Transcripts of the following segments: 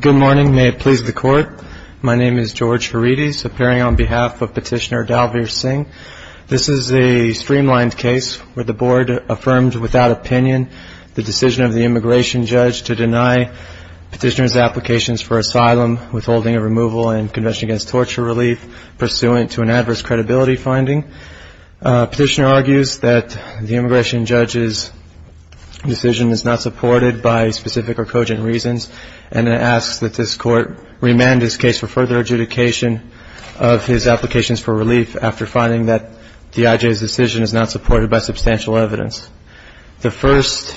Good morning. May it please the court. My name is George Herides, appearing on behalf of Petitioner Dalvir Singh. This is a streamlined case where the board affirmed without opinion the decision of the immigration judge to deny petitioner's applications for asylum, withholding of removal, and conviction against torture relief pursuant to an adverse credibility finding. Petitioner argues that the immigration judge's decision is not supported by specific or cogent reasons, and asks that this court remand his case for further adjudication of his applications for relief after finding that the IJ's decision is not supported by substantial evidence. The first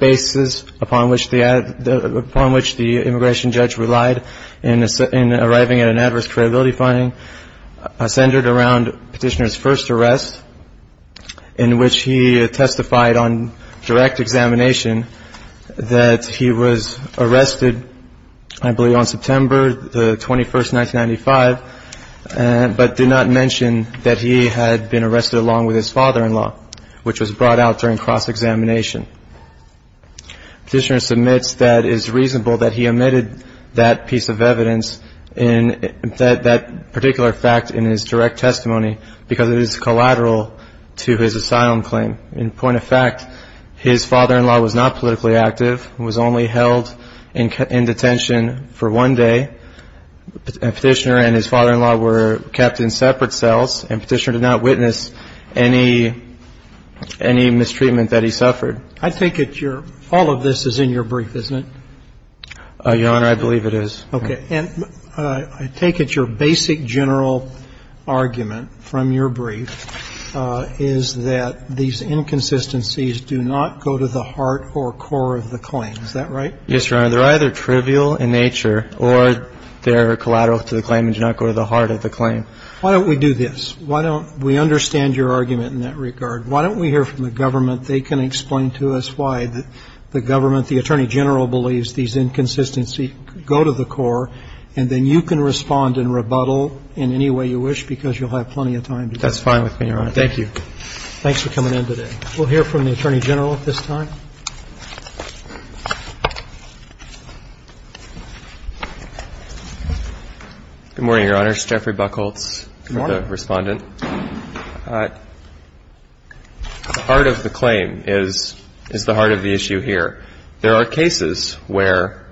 basis upon which the immigration judge relied in arriving at an adverse credibility finding centered around petitioner's first arrest, in which he testified on direct examination that he was arrested, I believe, on September the 21st, 1995, but did not mention that he had been arrested along with his father-in-law, which was brought out during cross-examination. Petitioner submits that it is reasonable that he omitted that piece of evidence in that particular fact in his direct testimony because it is collateral to his asylum claim. In point of fact, his father-in-law was not politically active, was only held in detention for one day, and Petitioner and his father-in-law were kept in separate cells, and Petitioner did not witness any mistreatment that he suffered. I think all of this is in your brief, isn't it? Your Honor, I believe it is. Okay. And I take it your basic general argument from your brief is that these inconsistencies do not go to the heart or core of the claim. Is that right? Yes, Your Honor. They're either trivial in nature or they're collateral to the claim and do not go to the heart of the claim. Why don't we do this? Why don't we understand your argument in that regard? Why don't we hear from the government? They can explain to us why the government, the Attorney General, believes these inconsistencies go to the core, and then you can respond and rebuttal in any way you wish because you'll have plenty of time to do that. That's fine with me, Your Honor. Thank you. Thanks for coming in today. We'll hear from the Attorney General at this time. Jeffrey Buchholz, the Respondent. Good morning. The heart of the claim is the heart of the issue here. There are cases where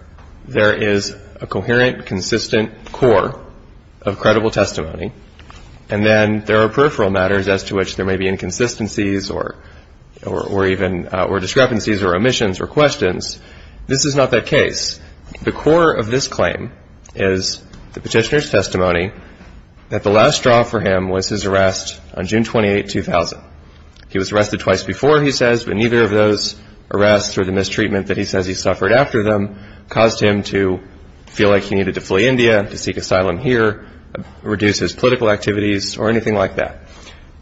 there is a coherent, consistent core of credible testimony, and then there are peripheral matters as to which there may be inconsistencies or even or discrepancies or omissions or questions. This is not that case. The core of this claim is the petitioner's testimony that the last straw for him was his arrest on June 28, 2000. He was arrested twice before, he says, but neither of those arrests or the mistreatment that he says he suffered after them caused him to feel like he needed to flee India, to seek asylum here, reduce his political activities, or anything like that.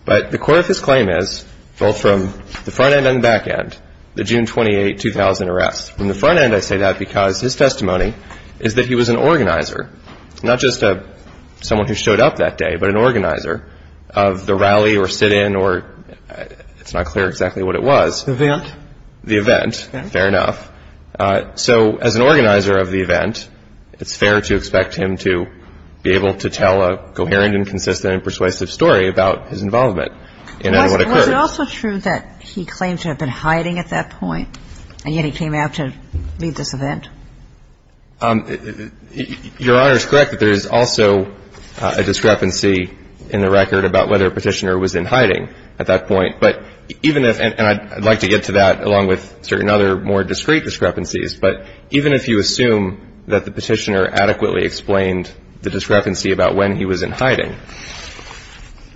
But the core of his claim is, both from the front end and the back end, the June 28, 2000 arrest. From the front end, I say that because his testimony is that he was an organizer, not just someone who showed up that day, but an organizer of the rally or sit-in or it's not clear exactly what it was. The event. The event. Fair enough. So as an organizer of the event, it's fair to expect him to be able to tell a coherent and consistent and persuasive story about his involvement in what occurred. Is it also true that he claimed to have been hiding at that point and yet he came out to lead this event? Your Honor is correct that there is also a discrepancy in the record about whether a petitioner was in hiding at that point. But even if, and I'd like to get to that along with certain other more discreet discrepancies, but even if you assume that the petitioner adequately explained the discrepancy about when he was in hiding,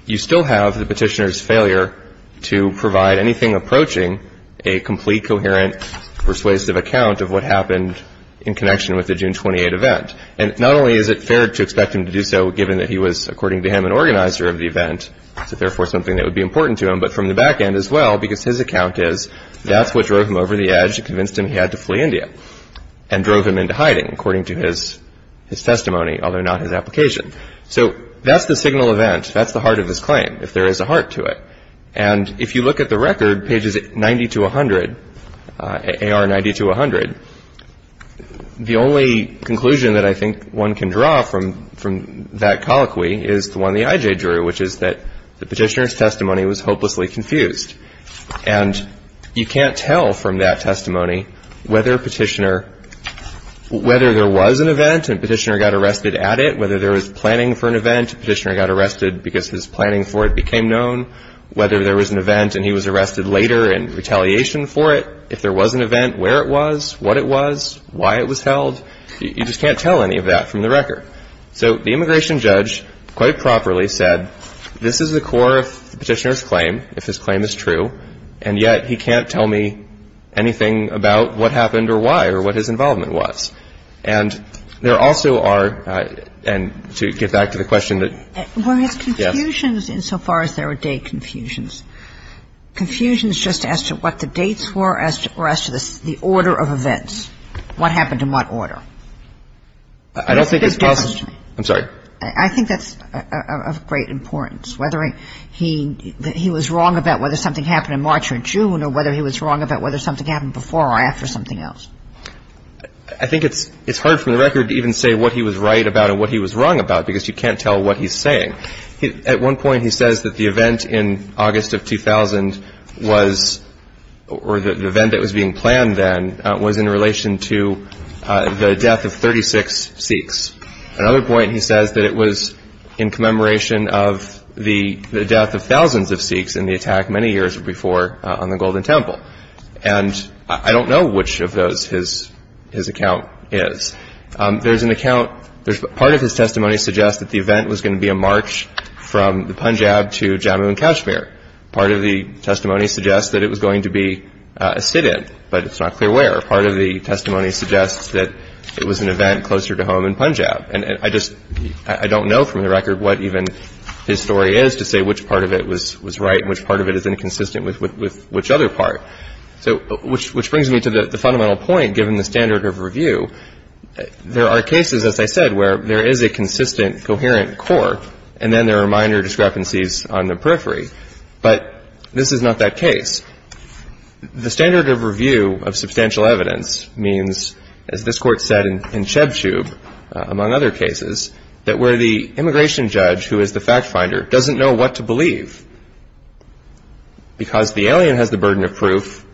you still have the petitioner's failure to provide anything approaching a complete, coherent, persuasive account of what happened in connection with the June 28 event. And not only is it fair to expect him to do so given that he was, according to him, an organizer of the event, so therefore something that would be important to him, but from the back end as well because his account is that's what drove him over the edge and convinced him he had to flee India and drove him into hiding, according to his testimony, although not his application. So that's the signal event. That's the heart of his claim, if there is a heart to it. And if you look at the record, pages 90 to 100, AR 90 to 100, the only conclusion that I think one can draw from that colloquy is the one the IJ drew, which is that the petitioner's testimony was hopelessly confused. And you can't tell from that testimony whether a petitioner, whether there was an event and a petitioner got arrested at it, whether there was planning for an event, a petitioner got arrested because his planning for it became known, whether there was an event and he was arrested later in retaliation for it, if there was an event, where it was, what it was, why it was held, you just can't tell any of that from the record. So the immigration judge quite properly said this is the core of the petitioner's claim, if his claim is true, and yet he can't tell me anything about what happened or why or what his involvement was. And there also are, and to get back to the question that yes. Kagan. Were his confusions insofar as they were date confusions, confusions just as to what the dates were or as to the order of events, what happened in what order? I don't think it's possible. I'm sorry. I think that's of great importance, whether he was wrong about whether something happened in March or June or whether he was wrong about whether something happened before or after something else. I think it's hard for the record to even say what he was right about and what he was wrong about because you can't tell what he's saying. At one point he says that the event in August of 2000 was, or the event that was being planned then, was in relation to the death of 36 Sikhs. At another point he says that it was in commemoration of the death of thousands of Sikhs in the attack many years before on the Golden Temple. And I don't know which of those his account is. There's an account, part of his testimony suggests that the event was going to be a march from the Punjab to Jammu and Kashmir. Part of the testimony suggests that it was going to be a sit-in, but it's not clear where. Part of the testimony suggests that it was an event closer to home in Punjab. And I just, I don't know from the record what even his story is to say which part of it was right and which part of it is inconsistent with which other part. So, which brings me to the fundamental point given the standard of review. There are cases, as I said, where there is a consistent, coherent core and then there are minor discrepancies on the periphery. But this is not that case. The standard of review of substantial evidence means, as this Court said in Chebchub, among other cases, that where the immigration judge, who is the fact finder, doesn't know what to believe, because the alien has the burden of proof,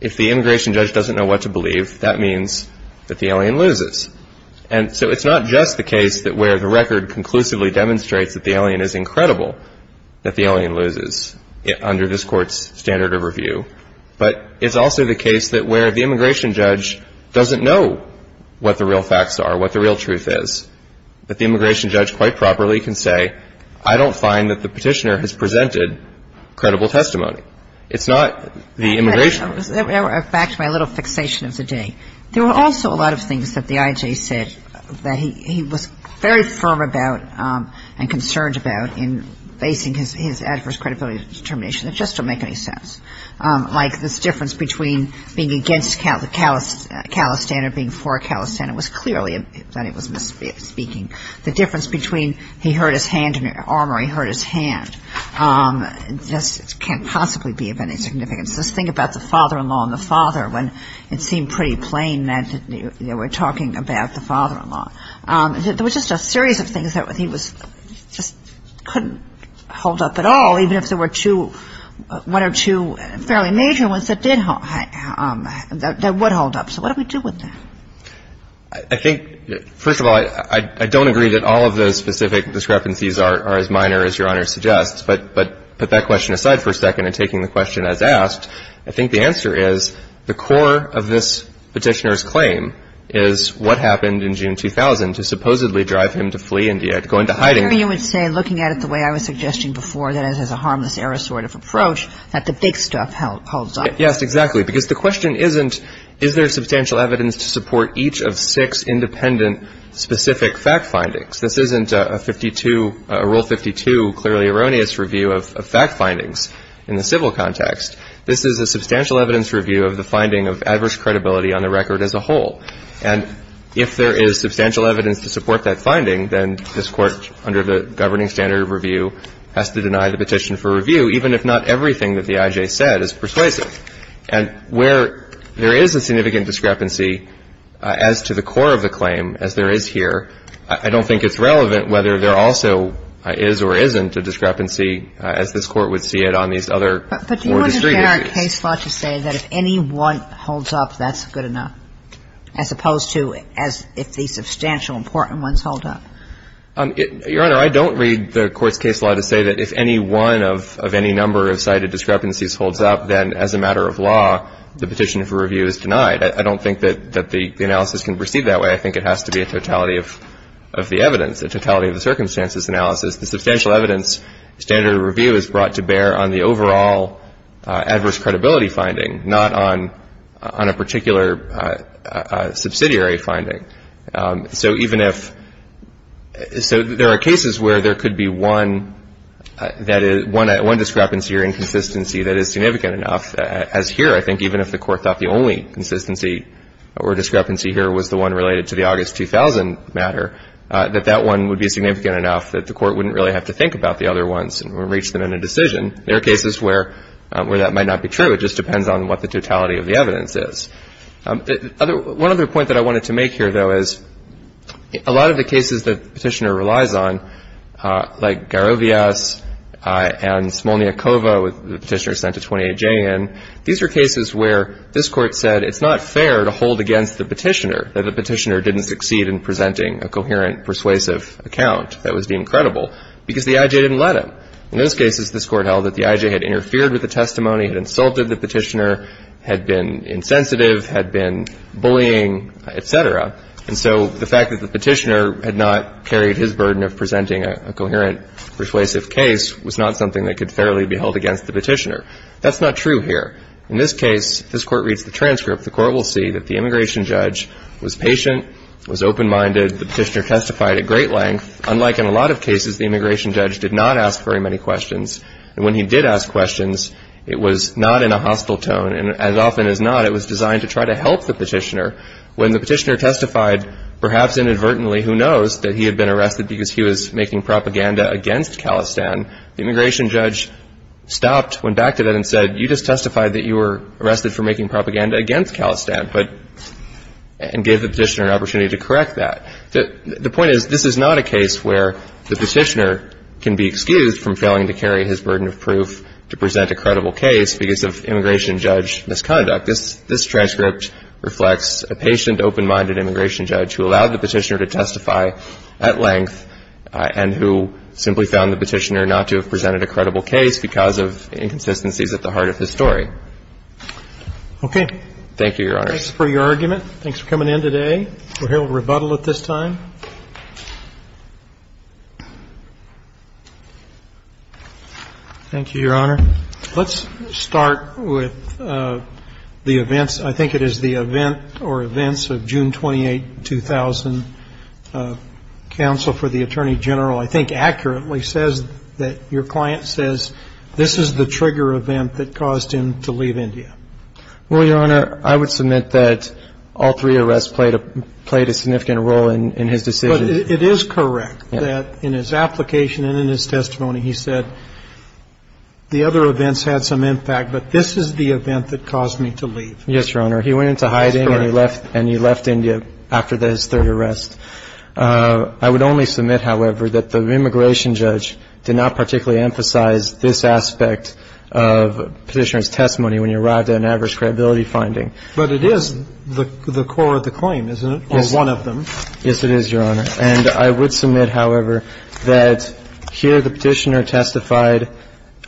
if the immigration judge doesn't know what to believe, that means that the alien loses. And so it's not just the case that where the record conclusively demonstrates that the alien is incredible, that the alien loses under this Court's standard of review. But it's also the case that where the immigration judge doesn't know what the real facts are, what the real truth is, that the immigration judge quite properly can say, I don't find that the petitioner has presented credible testimony. It's not the immigration judge. Back to my little fixation of the day. There were also a lot of things that the IJ said that he was very firm about and concerned about in basing his adverse credibility determination that just don't make any sense, like this difference between being against a calistander and being for a calistander. It was clearly that he was misspeaking. The difference between he hurt his arm or he hurt his hand can't possibly be of any significance. This thing about the father-in-law and the father, when it seemed pretty plain that they were talking about the father-in-law. There was just a series of things that he just couldn't hold up at all, even if there were one or two fairly major ones that would hold up. So what do we do with that? I think, first of all, I don't agree that all of those specific discrepancies are as minor as Your Honor suggests. But to put that question aside for a second and taking the question as asked, I think the answer is the core of this petitioner's claim is what happened in June 2000 to supposedly drive him to flee India, to go into hiding. Kagan. I mean, you would say, looking at it the way I was suggesting before, that is, as a harmless error sort of approach, that the big stuff holds up. Yes, exactly. Because the question isn't is there substantial evidence to support each of six independent, specific fact findings. This isn't a 52, Rule 52, clearly erroneous review of fact findings in the civil context. This is a substantial evidence review of the finding of adverse credibility on the record as a whole. And if there is substantial evidence to support that finding, then this Court, under the governing standard of review, has to deny the petition for review, even if not everything that the IJ said is persuasive. And where there is a significant discrepancy as to the core of the claim, as there is here, I don't think it's relevant whether there also is or isn't a discrepancy as this Court would see it on these other four district areas. But do you understand our case law to say that if any one holds up, that's good enough? As opposed to as if the substantial important ones hold up? Your Honor, I don't read the Court's case law to say that if any one of any number of cited discrepancies holds up, then as a matter of law, the petition for review is denied. I don't think that the analysis can proceed that way. I think it has to be a totality of the evidence, a totality of the circumstances analysis. The substantial evidence standard of review is brought to bear on the overall adverse credibility finding, not on a particular subsidiary finding. So even if, so there are cases where there could be one that is, one discrepancy or inconsistency that is significant enough, as here, I think, even if the Court thought the only consistency or discrepancy here was the one related to the August 2000 matter, that that one would be significant enough that the Court wouldn't really have to think about the other ones or reach them in a decision. There are cases where that might not be true. It just depends on what the totality of the evidence is. One other point that I wanted to make here, though, is a lot of the cases that the petitioner relies on, like Garovias and Smolniakova, the petitioner sent a 28J in, these are cases where this Court said it's not fair to hold against the petitioner, that the petitioner didn't succeed in presenting a coherent, persuasive account that was deemed credible because the IJ didn't let him. In those cases, this Court held that the IJ had interfered with the testimony, had insulted the petitioner, had been insensitive, had been bullying, et cetera. And so the fact that the petitioner had not carried his burden of presenting a coherent, persuasive case was not something that could fairly be held against the petitioner. That's not true here. In this case, this Court reads the transcript. The Court will see that the immigration judge was patient, was open-minded. The petitioner testified at great length. Unlike in a lot of cases, the immigration judge did not ask very many questions. And when he did ask questions, it was not in a hostile tone. And as often as not, it was designed to try to help the petitioner. When the petitioner testified, perhaps inadvertently, who knows that he had been arrested because he was making propaganda against Khalistan, the immigration judge stopped, went back to that and said, you just testified that you were arrested for making propaganda against Khalistan and gave the petitioner an opportunity to correct that. The point is, this is not a case where the petitioner can be excused from failing to carry his burden of proof to present a credible case because of immigration judge misconduct. This transcript reflects a patient, open-minded immigration judge who allowed the petitioner to testify at length and who simply found the petitioner not to have presented a credible case because of inconsistencies at the heart of his story. Okay. Thank you, Your Honor. Thanks for your argument. Thanks for coming in today. We'll hear a rebuttal at this time. Thank you, Your Honor. Let's start with the events. I think it is the event or events of June 28, 2000. Counsel for the Attorney General I think accurately says that your client says, this is the trigger event that caused him to leave India. Well, Your Honor, I would submit that all three arrests played a significant role in his decision. But it is correct that in his application and in his testimony he said, the other events had some impact, but this is the event that caused me to leave. Yes, Your Honor. He went into hiding and he left India after his third arrest. I would only submit, however, that the immigration judge did not particularly emphasize this aspect of petitioner's testimony when he arrived at an average credibility finding. But it is the core of the claim, isn't it, or one of them? Yes, it is, Your Honor. And I would submit, however, that here the petitioner testified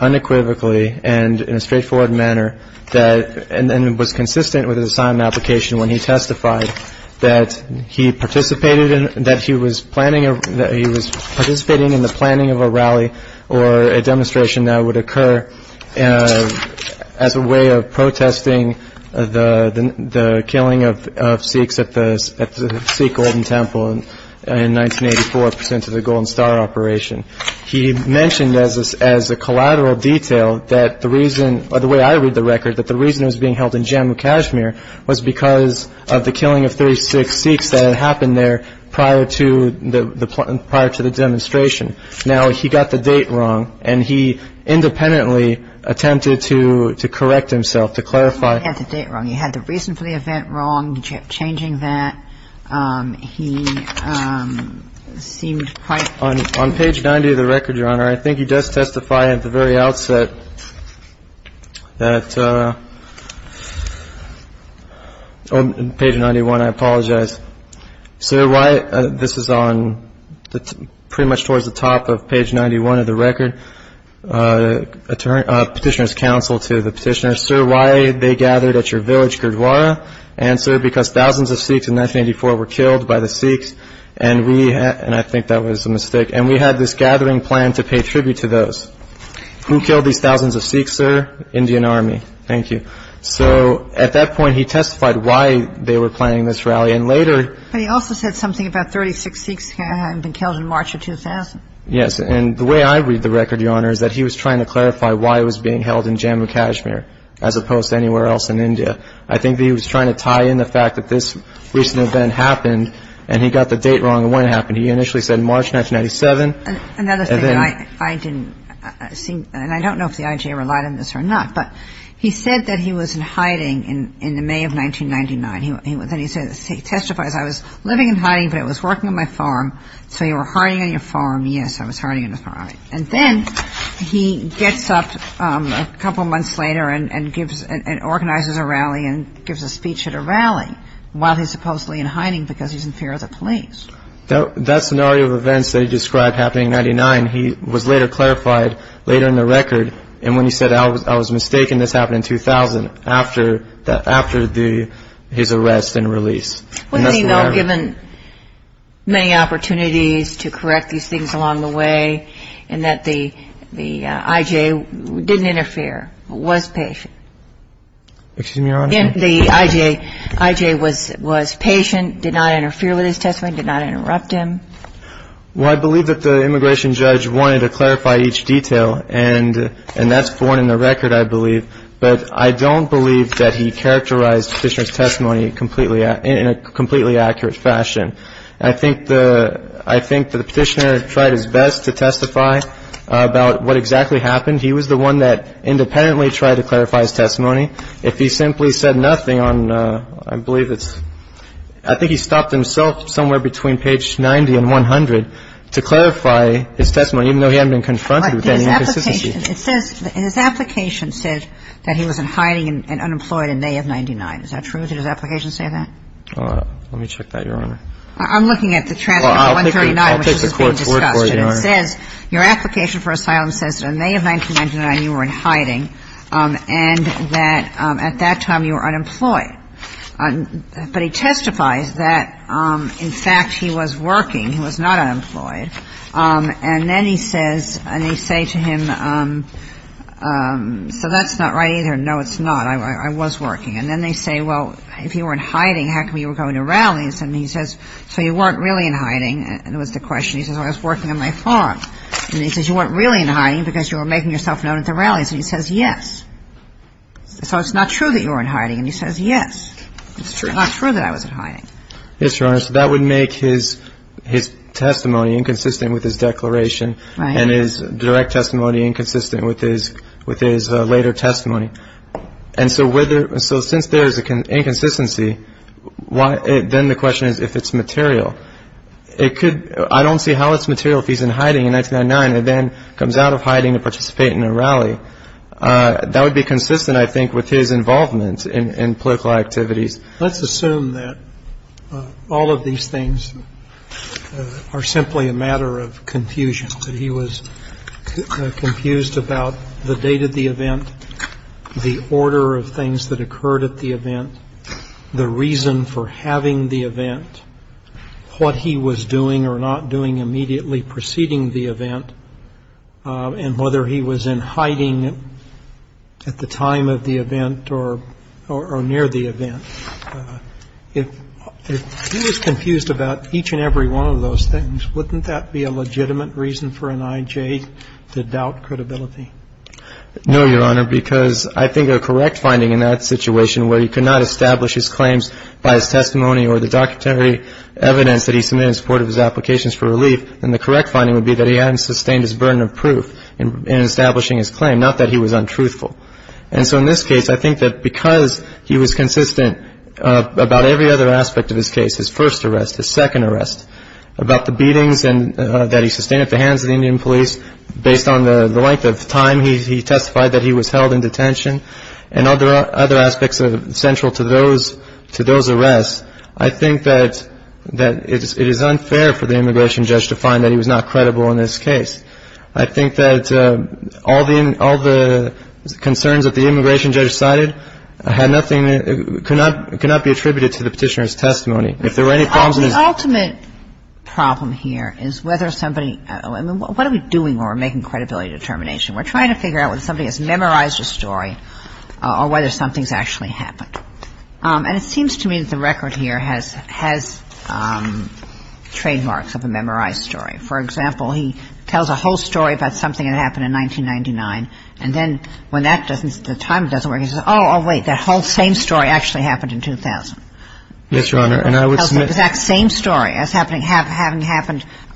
unequivocally and in a straightforward manner that and was consistent with his assignment application when he testified that he participated in, that he was planning, that he was participating in the planning of a rally or a demonstration that would occur as a way of protesting the killing of Sikhs at the Sikh Golden Temple in 1984 to the Golden Star operation. He mentioned as a collateral detail that the reason, or the way I read the record, that the reason he was being held in Jammu Kashmir was because of the killing of 36 Sikhs that had happened there prior to the demonstration. Now, he got the date wrong and he independently attempted to correct himself, to clarify. He had the date wrong. He had the reason for the event wrong. He kept changing that. He seemed quite. On page 90 of the record, Your Honor, I think he does testify at the very outset that On page 91, I apologize. Sir, this is pretty much towards the top of page 91 of the record. Petitioner's counsel to the petitioner. Sir, why they gathered at your village, Gurdwara? Answer, because thousands of Sikhs in 1984 were killed by the Sikhs, and we, and I think that was a mistake, and we had this gathering planned to pay tribute to those. Who killed these thousands of Sikhs, sir? Indian Army. Thank you. So at that point, he testified why they were planning this rally, and later. But he also said something about 36 Sikhs had been killed in March of 2000. Yes, and the way I read the record, Your Honor, is that he was trying to clarify why he was being held in Jammu Kashmir, as opposed to anywhere else in India. I think that he was trying to tie in the fact that this recent event happened, and he got the date wrong of when it happened. He initially said March 1997. Another thing that I didn't see, and I don't know if the IJA relied on this or not, but he said that he was in hiding in the May of 1999. Then he says, he testifies, I was living in hiding, but I was working on my farm. So you were hiding on your farm? Yes, I was hiding on the farm. And then he gets up a couple months later and gives, and organizes a rally and gives a speech at a rally while he's supposedly in hiding because he's in fear of the police. That scenario of events that he described happening in 1999, he was later clarified later in the record, and when he said, I was mistaken, this happened in 2000, after his arrest and release. Well, he was given many opportunities to correct these things along the way, and that the IJA didn't interfere, was patient. Excuse me, Your Honor. The IJA was patient, did not interfere with his testimony, did not interrupt him? Well, I believe that the immigration judge wanted to clarify each detail, and that's for one in the record, I believe. But I don't believe that he characterized the Petitioner's testimony in a completely accurate fashion. I think the Petitioner tried his best to testify about what exactly happened. Well, I think the Petitioner's testimony, if he simply said nothing on, I believe it's, I think he stopped himself somewhere between page 90 and 100 to clarify his testimony, even though he hadn't been confronted with any inconsistency. But his application, it says, his application says that he was in hiding and unemployed in May of 99. Is that true? Did his application say that? Let me check that, Your Honor. I'm looking at the transcript of 139, which is being discussed. Well, I'll take the court's word for it, Your Honor. It says, your application for asylum says that in May of 1999 you were in hiding and that at that time you were unemployed. But he testifies that, in fact, he was working. He was not unemployed. And then he says, and they say to him, so that's not right either. No, it's not. I was working. And then they say, well, if you were in hiding, how come you were going to rallies? And he says, so you weren't really in hiding was the question. He says, I was working on my farm. And he says, you weren't really in hiding because you were making yourself known at the rallies. And he says, yes. So it's not true that you were in hiding. And he says, yes. It's not true that I was in hiding. Yes, Your Honor. So that would make his testimony inconsistent with his declaration. Right. And his direct testimony inconsistent with his later testimony. And so since there is an inconsistency, then the question is if it's material. I don't see how it's material if he's in hiding in 1999 and then comes out of hiding to participate in a rally. That would be consistent, I think, with his involvement in political activities. Let's assume that all of these things are simply a matter of confusion, that he was confused about the date of the event, the order of things that occurred at the event, the reason for having the event, what he was doing or not doing immediately preceding the event, and whether he was in hiding at the time of the event or near the event. If he was confused about each and every one of those things, wouldn't that be a legitimate reason for an I.J. to doubt credibility? No, Your Honor, because I think a correct finding in that situation where he could not establish his claims by his testimony or the documentary evidence that he submitted in support of his applications for relief, then the correct finding would be that he hadn't sustained his burden of proof in establishing his claim, not that he was untruthful. And so in this case, I think that because he was consistent about every other aspect of his case, his first arrest, his second arrest, about the beatings that he sustained at the hands of the Indian police, based on the length of time he testified that he was held in detention and other aspects central to those arrests, I think that it is unfair for the immigration judge to find that he was not credible in this case. I think that all the concerns that the immigration judge cited had nothing, could not be attributed to the petitioner's testimony. The ultimate problem here is whether somebody – I mean, what are we doing when we're making credibility determination? We're trying to figure out whether somebody has memorized a story or whether something's actually happened. And it seems to me that the record here has trademarks of a memorized story. For example, he tells a whole story about something that happened in 1999, and then when that doesn't – the time doesn't work, he says, oh, wait, that whole same story actually happened in 2000. Yes, Your Honor, and I would – Tells the exact same story as having happened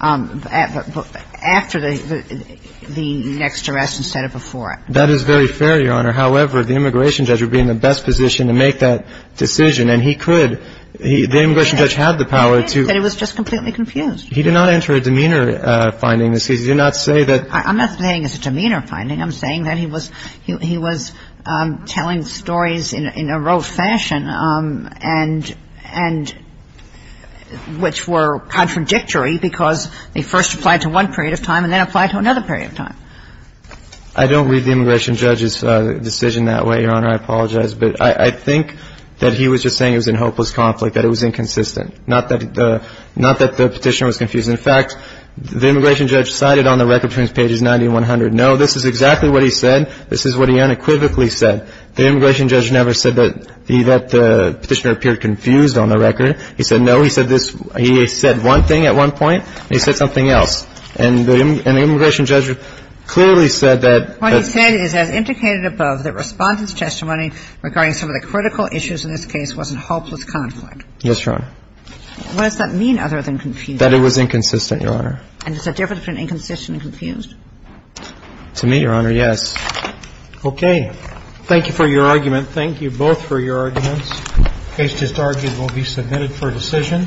after the next arrest instead of before it. That is very fair, Your Honor. However, the immigration judge would be in the best position to make that decision, and he could – the immigration judge had the power to – He did, but he was just completely confused. He did not enter a demeanor finding. He did not say that – I'm not saying it's a demeanor finding. I'm saying that he was telling stories in a rote fashion and – which were contradictory because they first applied to one period of time and then applied to another period of time. I don't read the immigration judge's decision that way, Your Honor. I apologize. But I think that he was just saying it was a hopeless conflict, that it was inconsistent, not that the petitioner was confused. In fact, the immigration judge cited on the record between pages 90 and 100, no, this is exactly what he said. This is what he unequivocally said. The immigration judge never said that the petitioner appeared confused on the record. He said no. He said this – he said one thing at one point, and he said something else. And the immigration judge clearly said that – What he said is as indicated above, that Respondent's testimony regarding some of the critical issues in this case wasn't hopeless conflict. Yes, Your Honor. What does that mean other than confused? That it was inconsistent, Your Honor. And is it different from inconsistent and confused? To me, Your Honor, yes. Okay. Thank you for your argument. Thank you both for your arguments. The case just argued will be submitted for decision.